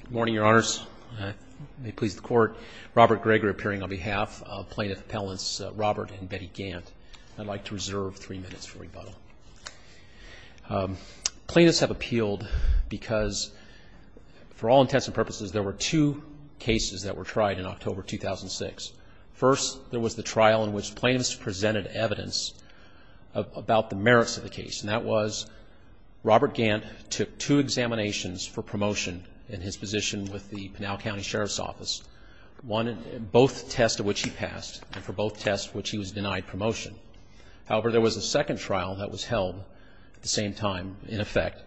Good morning, Your Honors. May it please the Court, Robert Gregory appearing on behalf of plaintiff appellants Robert and Betty Gant. I'd like to reserve three minutes for rebuttal. Plaintiffs have appealed because, for all intents and purposes, there were two cases that were tried in October 2006. First, there was the trial in which plaintiffs presented evidence about the merits of the case, and that was Robert Gant took two examinations for promotion in his position with the Pinal County Sheriff's Office, both tests of which he passed and for both tests which he was denied promotion. However, there was a second trial that was held at the same time, in effect,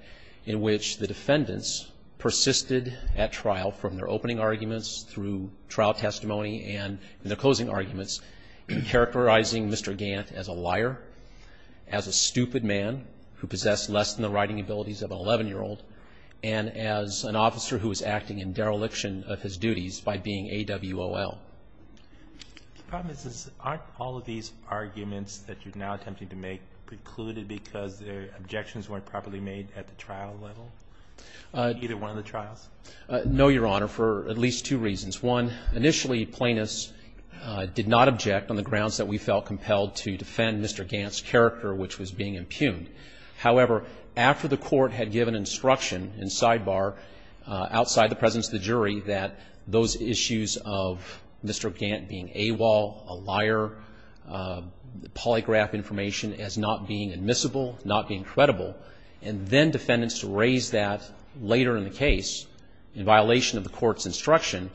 in which the defendants persisted at trial from their opening arguments through trial testimony and their closing arguments, characterizing Mr. Gant as a liar, as a stupid man who possessed less than the writing abilities of an 11-year-old, and as an officer who was acting in dereliction of his duties by being AWOL. Aren't all of these arguments that you're now attempting to make precluded because their objections weren't properly made at the trial level? Either one of the trials? No, Your Honor, for at least two reasons. One, initially plaintiffs did not object on the grounds that we felt compelled to defend Mr. Gant's character, which was being impugned. However, after the court had given instruction in sidebar, outside the presence of the jury, that those issues of Mr. Gant being AWOL, a liar, polygraph information as not being admissible, not being credible, and then defendants to raise that later in the case in violation of the court's instruction,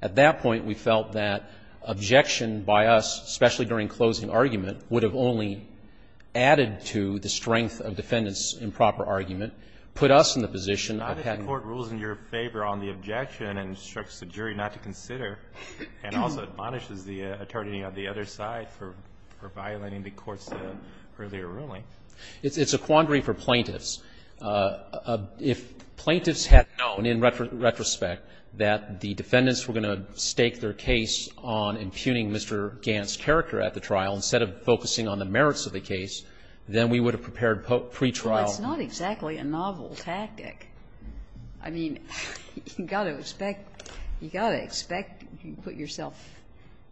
at that point we felt that objection by us, especially during closing argument, would have only added to the strength of defendants' improper argument, put us in the position of having to ---- Not if the court rules in your favor on the objection and instructs the jury not to consider and also admonishes the attorney on the other side for violating the court's earlier ruling. It's a quandary for plaintiffs. If plaintiffs had known in retrospect that the defendants were going to stake their case on impugning Mr. Gant's character at the trial instead of focusing on the merits of the case, then we would have prepared pretrial. Well, it's not exactly a novel tactic. I mean, you've got to expect, you've got to expect if you put yourself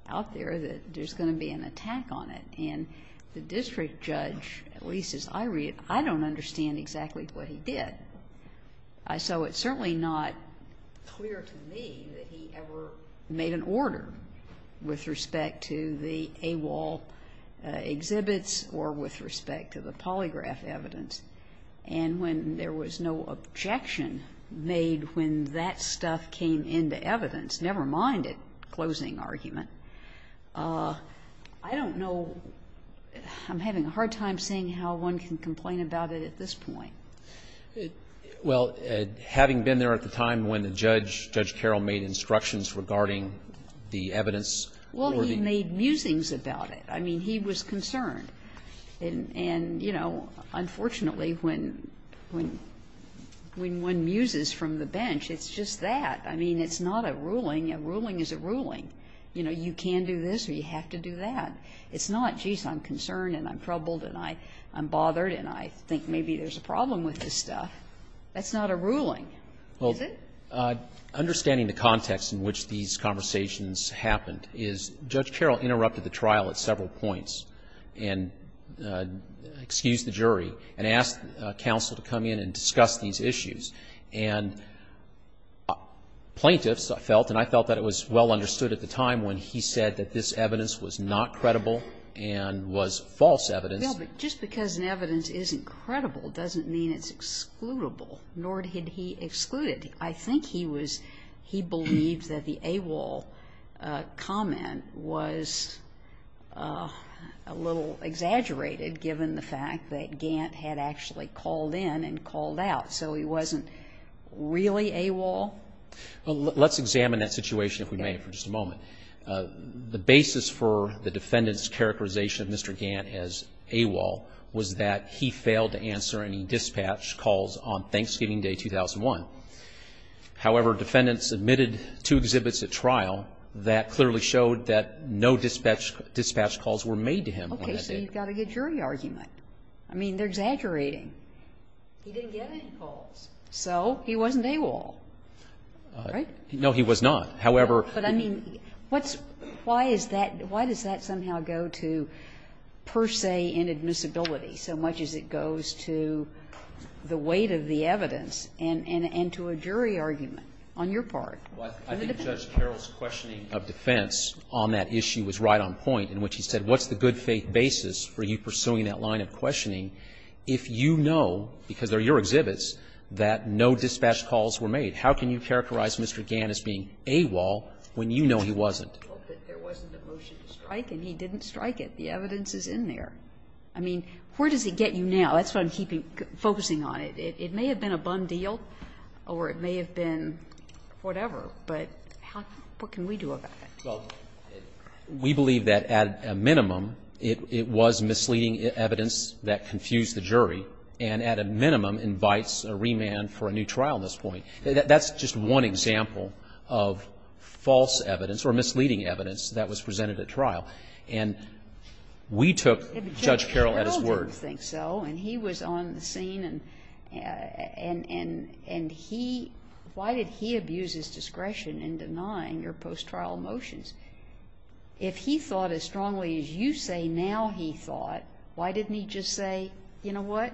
out there that there's going to be an attack on it. And the district judge, at least as I read it, I don't understand exactly what he did. So it's certainly not clear to me that he ever made an order with respect to the AWOL exhibits or with respect to the polygraph evidence. And when there was no objection made when that stuff came into evidence, never mind it, closing argument, I don't know. I'm having a hard time seeing how one can complain about it at this point. Well, having been there at the time when the judge, Judge Carroll, made instructions regarding the evidence or the ---- Well, he made musings about it. I mean, he was concerned. And, you know, unfortunately, when one muses from the bench, it's just that. I mean, it's not a ruling. A ruling is a ruling. You know, you can do this or you have to do that. It's not, geez, I'm concerned and I'm troubled and I'm bothered and I think maybe there's a problem with this stuff. That's not a ruling, is it? Well, understanding the context in which these conversations happened is Judge Carroll interrupted the trial at several points and excused the jury and asked counsel to come in and discuss these issues. And plaintiffs felt, and I felt that it was well understood at the time when he said that this evidence was not credible and was false evidence. Well, but just because an evidence isn't credible doesn't mean it's excludable, nor did he exclude it. I think he was, he believed that the AWOL comment was a little exaggerated given the fact that Gant had actually called in and called out. So he wasn't really AWOL? Well, let's examine that situation, if we may, for just a moment. The basis for the defendant's characterization of Mr. Gant as AWOL was that he failed to answer any dispatch calls on Thanksgiving Day, 2001. However, defendants submitted two exhibits at trial that clearly showed that no dispatch calls were made to him on that day. Okay. So you've got a good jury argument. I mean, they're exaggerating. He didn't get any calls. So he wasn't AWOL, right? No, he was not. However. But I mean, what's why is that, why does that somehow go to per se inadmissibility so much as it goes to the weight of the evidence and to a jury argument on your part? Well, I think Judge Carroll's questioning of defense on that issue was right on point in which he said, what's the good faith basis for you pursuing that line of questioning if you know, because they're your exhibits, that no dispatch calls were made? How can you characterize Mr. Gant as being AWOL when you know he wasn't? Well, there wasn't a motion to strike and he didn't strike it. The evidence is in there. I mean, where does it get you now? That's what I'm focusing on. It may have been a bum deal or it may have been whatever, but what can we do about it? Well, we believe that at a minimum it was misleading evidence that confused the jury and at a minimum invites a remand for a new trial at this point. That's just one example of false evidence or misleading evidence that was presented at trial. And we took Judge Carroll at his word. But Judge Carroll didn't think so and he was on the scene and he, why did he abuse his discretion in denying your post-trial motions? If he thought as strongly as you say now he thought, why didn't he just say, you know what,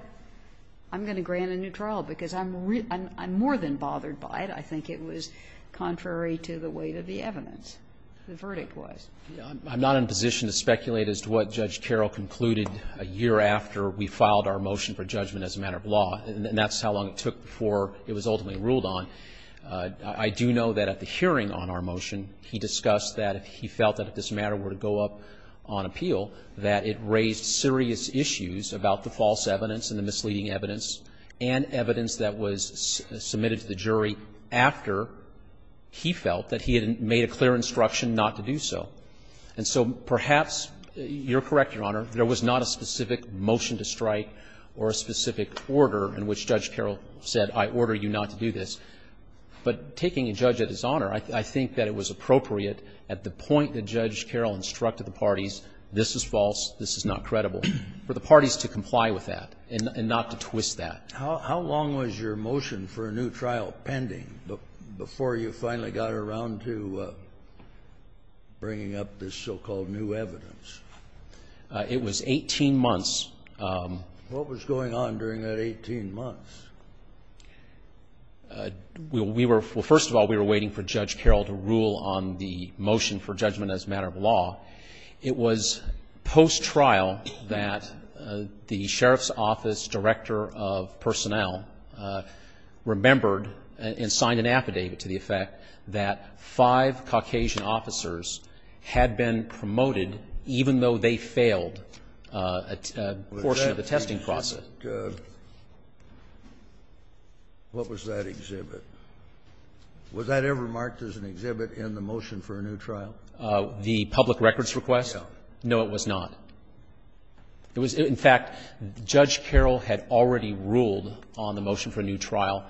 I'm going to grant a new trial because I'm more than bothered by it. I think it was contrary to the weight of the evidence, the verdict was. I'm not in a position to speculate as to what Judge Carroll concluded a year after we filed our motion for judgment as a matter of law, and that's how long it took before it was ultimately ruled on. I do know that at the hearing on our motion he discussed that if he felt that if this matter were to go up on appeal that it raised serious issues about the false evidence and the misleading evidence and evidence that was submitted to the jury after he felt that he had made a clear instruction not to do so. And so perhaps you're correct, Your Honor, there was not a specific motion to strike or a specific order in which Judge Carroll said, I order you not to do this. But taking a judge at his honor, I think that it was appropriate at the point that Judge Carroll instructed the parties, this is false, this is not credible, for the parties to comply with that and not to twist that. Kennedy. How long was your motion for a new trial pending before you finally got around to bringing up this so-called new evidence? It was 18 months. What was going on during that 18 months? We were — well, first of all, we were waiting for Judge Carroll to rule on the motion for judgment as a matter of law. It was post-trial that the sheriff's office director of personnel remembered and signed an affidavit to the effect that five Caucasian officers had been promoted even though they failed a portion of the testing process. What was that exhibit? Was that ever marked as an exhibit in the motion for a new trial? The public records request? No. No, it was not. It was — in fact, Judge Carroll had already ruled on the motion for a new trial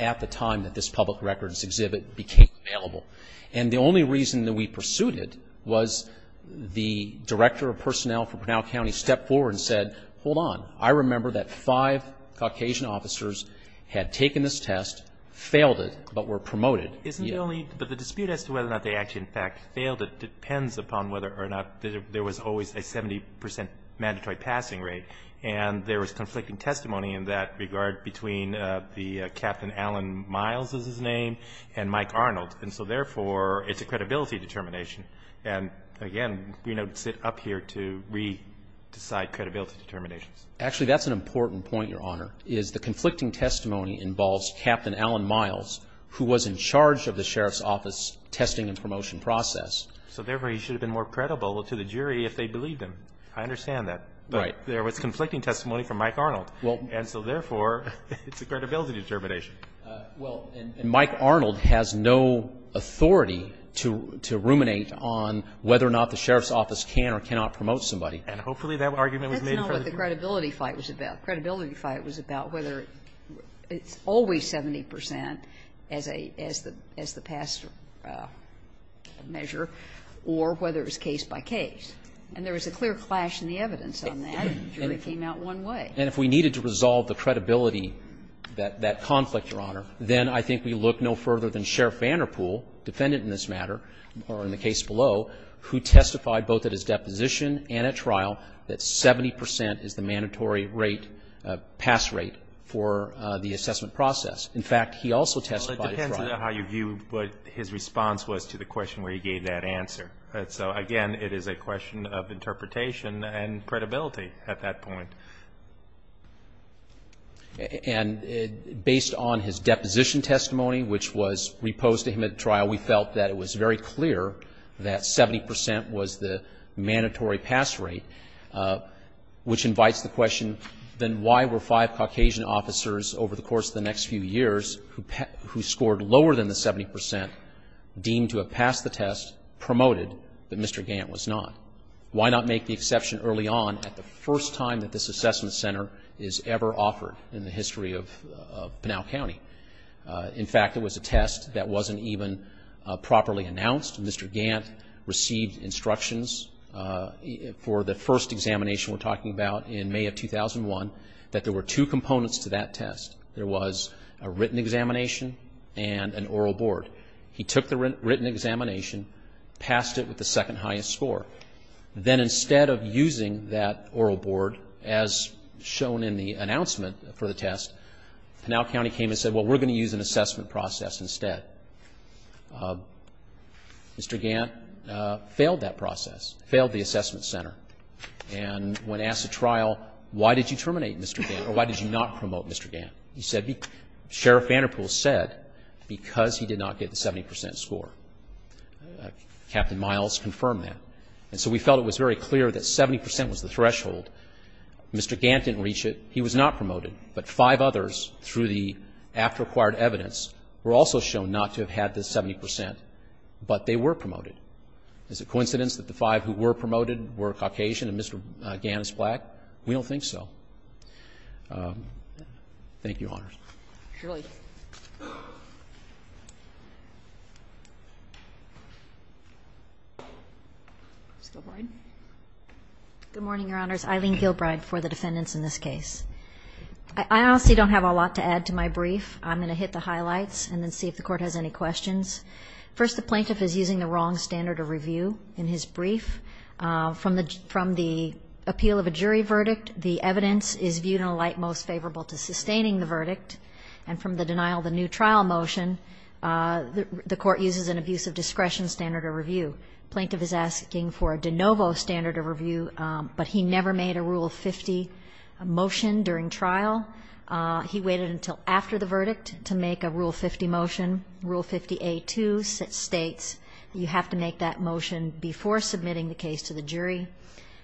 at the time that this public records exhibit became available. And the only reason that we pursued it was the director of personnel for Pinal County stepped forward and said, hold on, I remember that five Caucasian officers had taken this test, failed it, but were promoted. Isn't the only — but the dispute as to whether or not they actually, in fact, failed it depends upon whether or not there was always a 70 percent mandatory passing rate. And there was conflicting testimony in that regard between the — Captain Allen Miles is his name and Mike Arnold. And so, therefore, it's a credibility determination. And, again, we don't sit up here to re-decide credibility determinations. Actually, that's an important point, Your Honor, is the conflicting testimony involves Captain Allen Miles, who was in charge of the sheriff's office testing and promotion process. So, therefore, he should have been more credible to the jury if they believed him. I understand that. Right. But there was conflicting testimony from Mike Arnold. And so, therefore, it's a credibility determination. Well, and Mike Arnold has no authority to ruminate on whether or not the sheriff's office can or cannot promote somebody. And hopefully that argument was made in front of the jury. Let's know what the credibility fight was about. Credibility fight was about whether it's always 70 percent as a — as the past measure or whether it was case by case. And there was a clear clash in the evidence on that. The jury came out one way. And if we needed to resolve the credibility, that conflict, Your Honor, then I think we look no further than Sheriff Vanderpool, defendant in this matter, or in the case below, who testified both at his deposition and at trial that 70 percent is the mandatory rate, pass rate, for the assessment process. In fact, he also testified at trial. Well, it depends on how you view what his response was to the question where he gave that answer. So, again, it is a question of interpretation and credibility at that point. And based on his deposition testimony, which was reposed to him at trial, we felt that it was very clear that 70 percent was the mandatory pass rate, which invites the question, then why were five Caucasian officers over the course of the next few years who scored lower than the 70 percent deemed to have passed the test promoted that Mr. Gant was not? Why not make the exception early on at the first time that this assessment center is ever offered in the history of Pinal County? In fact, it was a test that wasn't even properly announced. Mr. Gant received instructions for the first examination we're talking about in May of 2001 that there were two components to that test. There was a written examination and an oral board. He took the written examination, passed it with the second highest score. Then instead of using that oral board, as shown in the announcement for the test, Pinal County came and said, well, we're going to use an assessment process instead. Mr. Gant failed that process, failed the assessment center, and when asked at trial, why did you terminate Mr. Gant or why did you not promote Mr. Gant? He said, Sheriff Vanderpool said, because he did not get the 70 percent score. Captain Miles confirmed that. And so we felt it was very clear that 70 percent was the threshold. Mr. Gant didn't reach it. He was not promoted. But five others through the after-acquired evidence were also shown not to have had the 70 percent, but they were promoted. Is it coincidence that the five who were promoted were Caucasian and Mr. Gant is black? We don't think so. Thank you, Your Honors. Ms. Gilbride. Good morning, Your Honors. Eileen Gilbride for the defendants in this case. I honestly don't have a lot to add to my brief. I'm going to hit the highlights and then see if the Court has any questions. First, the plaintiff is using the wrong standard of review in his brief. From the appeal of a jury verdict, the evidence is viewed in a light most favorable to sustaining the verdict. And from the denial of the new trial motion, the Court uses an abuse of discretion standard of review. The plaintiff is asking for a de novo standard of review, but he never made a Rule 50 motion during trial. He waited until after the verdict to make a Rule 50 motion. You have to make that motion before submitting the case to the jury.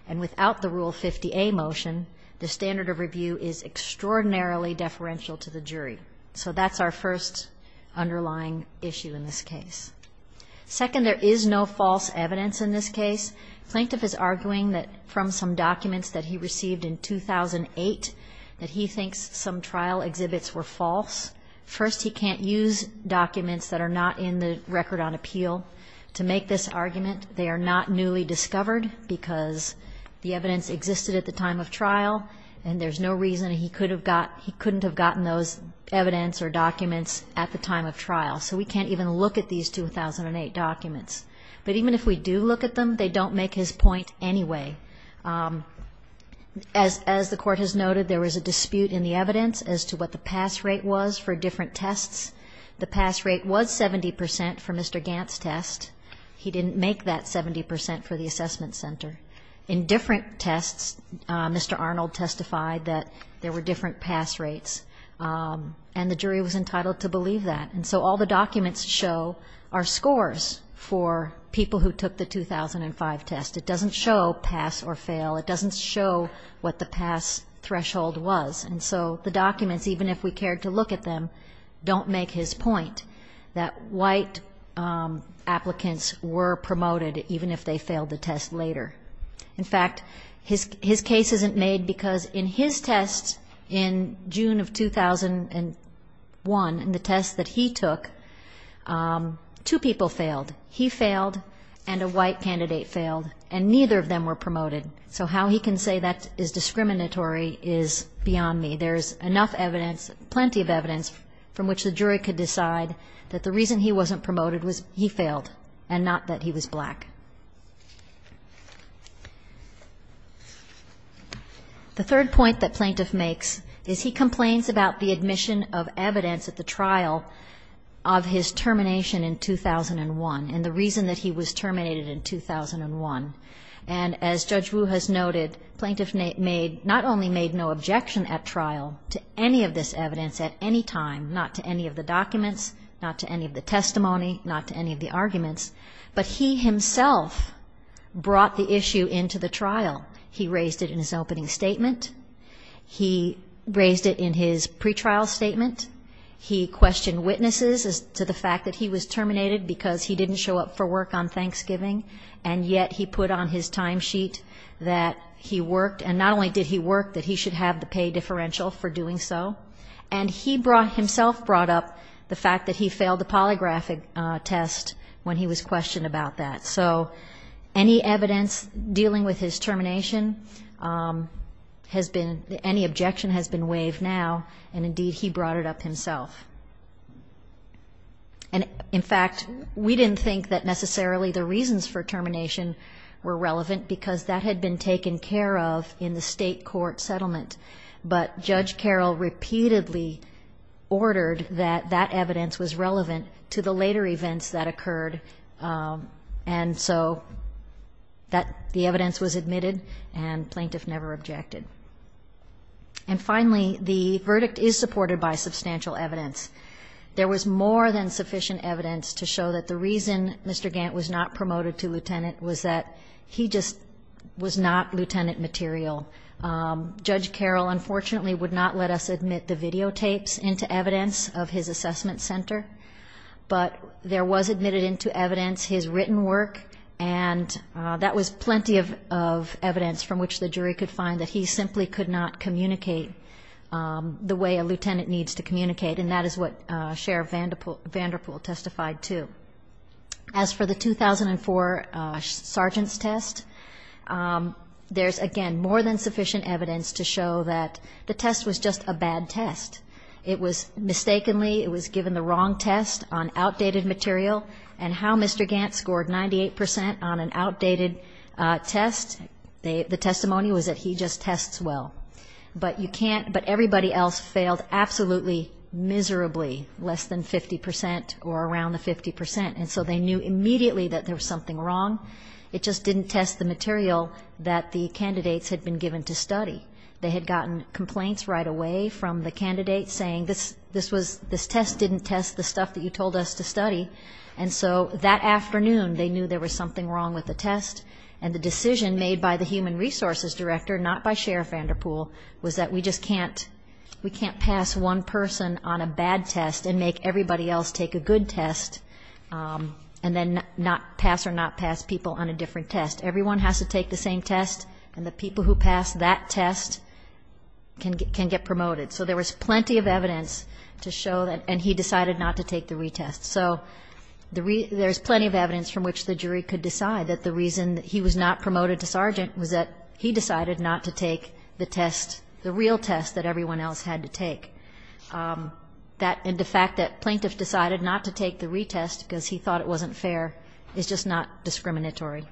And without the Rule 50A motion, the standard of review is extraordinarily deferential to the jury. So that's our first underlying issue in this case. Second, there is no false evidence in this case. The plaintiff is arguing that from some documents that he received in 2008, that he thinks some trial exhibits were false. First, he can't use documents that are not in the record on appeal to make this argument. They are not newly discovered because the evidence existed at the time of trial, and there's no reason he couldn't have gotten those evidence or documents at the time of trial. So we can't even look at these 2008 documents. But even if we do look at them, they don't make his point anyway. As the Court has noted, there was a dispute in the evidence as to what the pass rate was for different tests. The pass rate was 70 percent for Mr. Gant's test. He didn't make that 70 percent for the assessment center. In different tests, Mr. Arnold testified that there were different pass rates, and the jury was entitled to believe that. And so all the documents show are scores for people who took the 2005 test. It doesn't show pass or fail. It doesn't show what the pass threshold was. And so the documents, even if we cared to look at them, don't make his point that white applicants were promoted even if they failed the test later. In fact, his case isn't made because in his test in June of 2001, in the test that he took, two people failed. He failed and a white candidate failed, and neither of them were promoted. So how he can say that is discriminatory is beyond me. There is enough evidence, plenty of evidence, from which the jury could decide that the reason he wasn't promoted was he failed, and not that he was black. The third point that Plaintiff makes is he complains about the admission of evidence at the trial of his termination in 2001. And the reason that he was terminated in 2001. And as Judge Wu has noted, Plaintiff not only made no objection at trial to any of this evidence at any time, not to any of the documents, not to any of the testimony, not to any of the arguments, but he himself brought the issue into the trial. He raised it in his opening statement. He raised it in his pretrial statement. He questioned witnesses as to the fact that he was terminated because he didn't show up for work on Thanksgiving, and yet he put on his timesheet that he worked. And not only did he work, that he should have the pay differential for doing so. And he himself brought up the fact that he failed the polygraph test when he was questioned about that. So any evidence dealing with his termination has been any objection has been waived now, and indeed he brought it up himself. And, in fact, we didn't think that necessarily the reasons for termination were relevant because that had been taken care of in the state court settlement. But Judge Carroll repeatedly ordered that that evidence was relevant to the later events that occurred. And so the evidence was admitted, and Plaintiff never objected. And, finally, the verdict is supported by substantial evidence. There was more than sufficient evidence to show that the reason Mr. Gant was not promoted to lieutenant was that he just was not lieutenant material. Judge Carroll, unfortunately, would not let us admit the videotapes into evidence of his assessment center, but there was admitted into evidence his written work, and that was plenty of evidence from which the jury could find that he simply could not communicate the way a lieutenant needs to communicate, and that is what Sheriff Vanderpool testified to. As for the 2004 sergeant's test, there's, again, more than sufficient evidence to show that the test was just a bad test. It was mistakenly, it was given the wrong test on outdated material. And how Mr. Gant scored 98 percent on an outdated test, the testimony was that he just tests well. But you can't, but everybody else failed absolutely miserably, less than 50 percent or around the 50 percent. And so they knew immediately that there was something wrong. It just didn't test the material that the candidates had been given to study. They had gotten complaints right away from the candidates saying this test didn't test the stuff that you told us to study. And so that afternoon they knew there was something wrong with the test, and the decision made by the human resources director, not by Sheriff Vanderpool, was that we just can't pass one person on a bad test and make everybody else take a good test and then not pass or not pass people on a different test. Everyone has to take the same test, and the people who pass that test can get promoted. So there was plenty of evidence to show that, and he decided not to take the retest. So there's plenty of evidence from which the jury could decide that the reason he was not promoted to sergeant was that he decided not to take the test, the real test that everyone else had to take. And the fact that plaintiff decided not to take the retest because he thought it wasn't fair is just not discriminatory.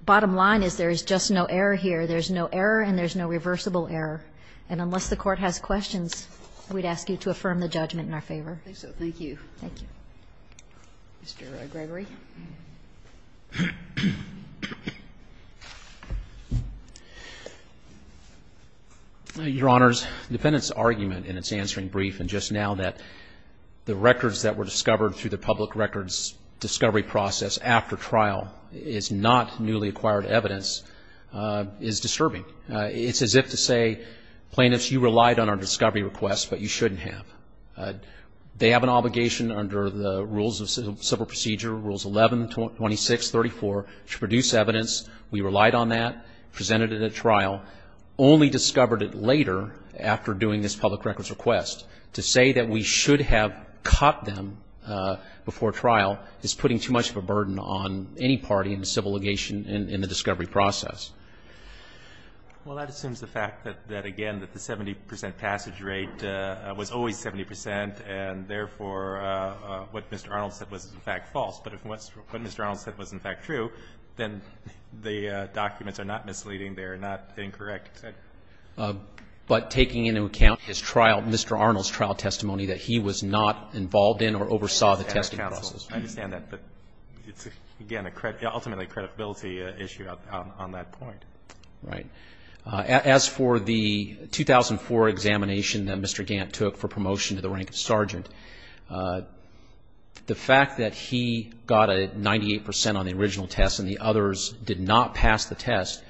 The bottom line is there is just no error here. There's no error and there's no reversible error. And unless the Court has questions, we'd ask you to affirm the judgment in our favor. I think so. Thank you. Thank you. Mr. Gregory. Your Honors, the defendant's argument in its answering brief, and just now that the records that were discovered through the public records discovery process after trial is not newly acquired evidence, is disturbing. It's as if to say, plaintiffs, you relied on our discovery request, but you shouldn't have. They have an obligation under the rules of civil procedure, Rules 11, 26, 34, to produce evidence. Now, only discovered it later, after doing this public records request, to say that we should have caught them before trial is putting too much of a burden on any party in the civil litigation in the discovery process. Well, that assumes the fact that, again, that the 70 percent passage rate was always 70 percent and, therefore, what Mr. Arnold said was, in fact, false. But if what Mr. Arnold said was, in fact, true, then the documents are not misleading. They are not incorrect. But taking into account his trial, Mr. Arnold's trial testimony, that he was not involved in or oversaw the testing process. I understand that. But it's, again, ultimately a credibility issue on that point. Right. As for the 2004 examination that Mr. Gant took for promotion to the rank of sergeant, the fact that he got a 98 percent on the original test and the others did not pass the test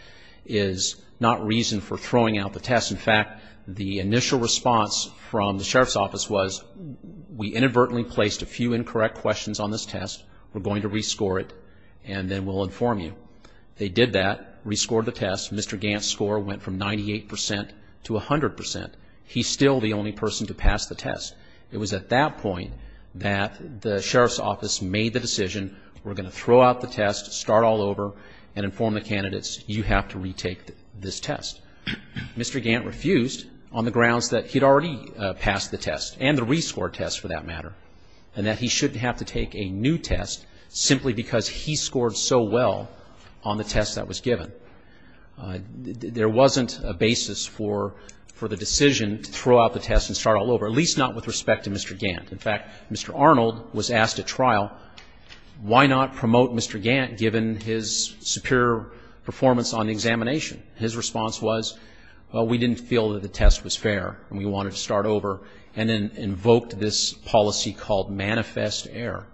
is not reason for throwing out the test. In fact, the initial response from the sheriff's office was, we inadvertently placed a few incorrect questions on this test. We're going to rescore it and then we'll inform you. They did that, rescored the test. Mr. Gant's score went from 98 percent to 100 percent. He's still the only person to pass the test. It was at that point that the sheriff's office made the decision, we're going to throw out the test, start all over and inform the candidates, you have to retake this test. Mr. Gant refused on the grounds that he'd already passed the test and the rescored test, for that matter, and that he shouldn't have to take a new test simply because he scored so well on the test that was given. There wasn't a basis for the decision to throw out the test and start all over, at least not with respect to Mr. Gant. In fact, Mr. Arnold was asked at trial, why not promote Mr. Gant given his superior performance on the examination? His response was, well, we didn't feel that the test was fair and we wanted to start over, and then invoked this policy called manifest error.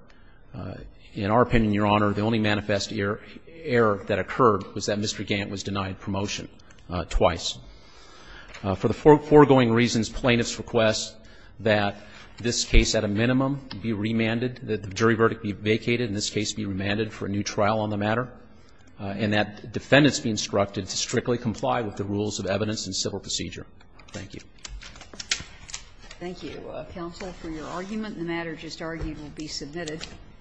In our opinion, Your Honor, the only manifest error that occurred was that Mr. Gant was denied promotion twice. For the foregoing reasons, plaintiffs request that this case at a minimum be remanded, that the jury verdict be vacated and this case be remanded for a new trial on the matter, and that defendants be instructed to strictly comply with the rules of evidence and civil procedure. Thank you. Thank you, counsel, for your argument. The matter just argued will be submitted.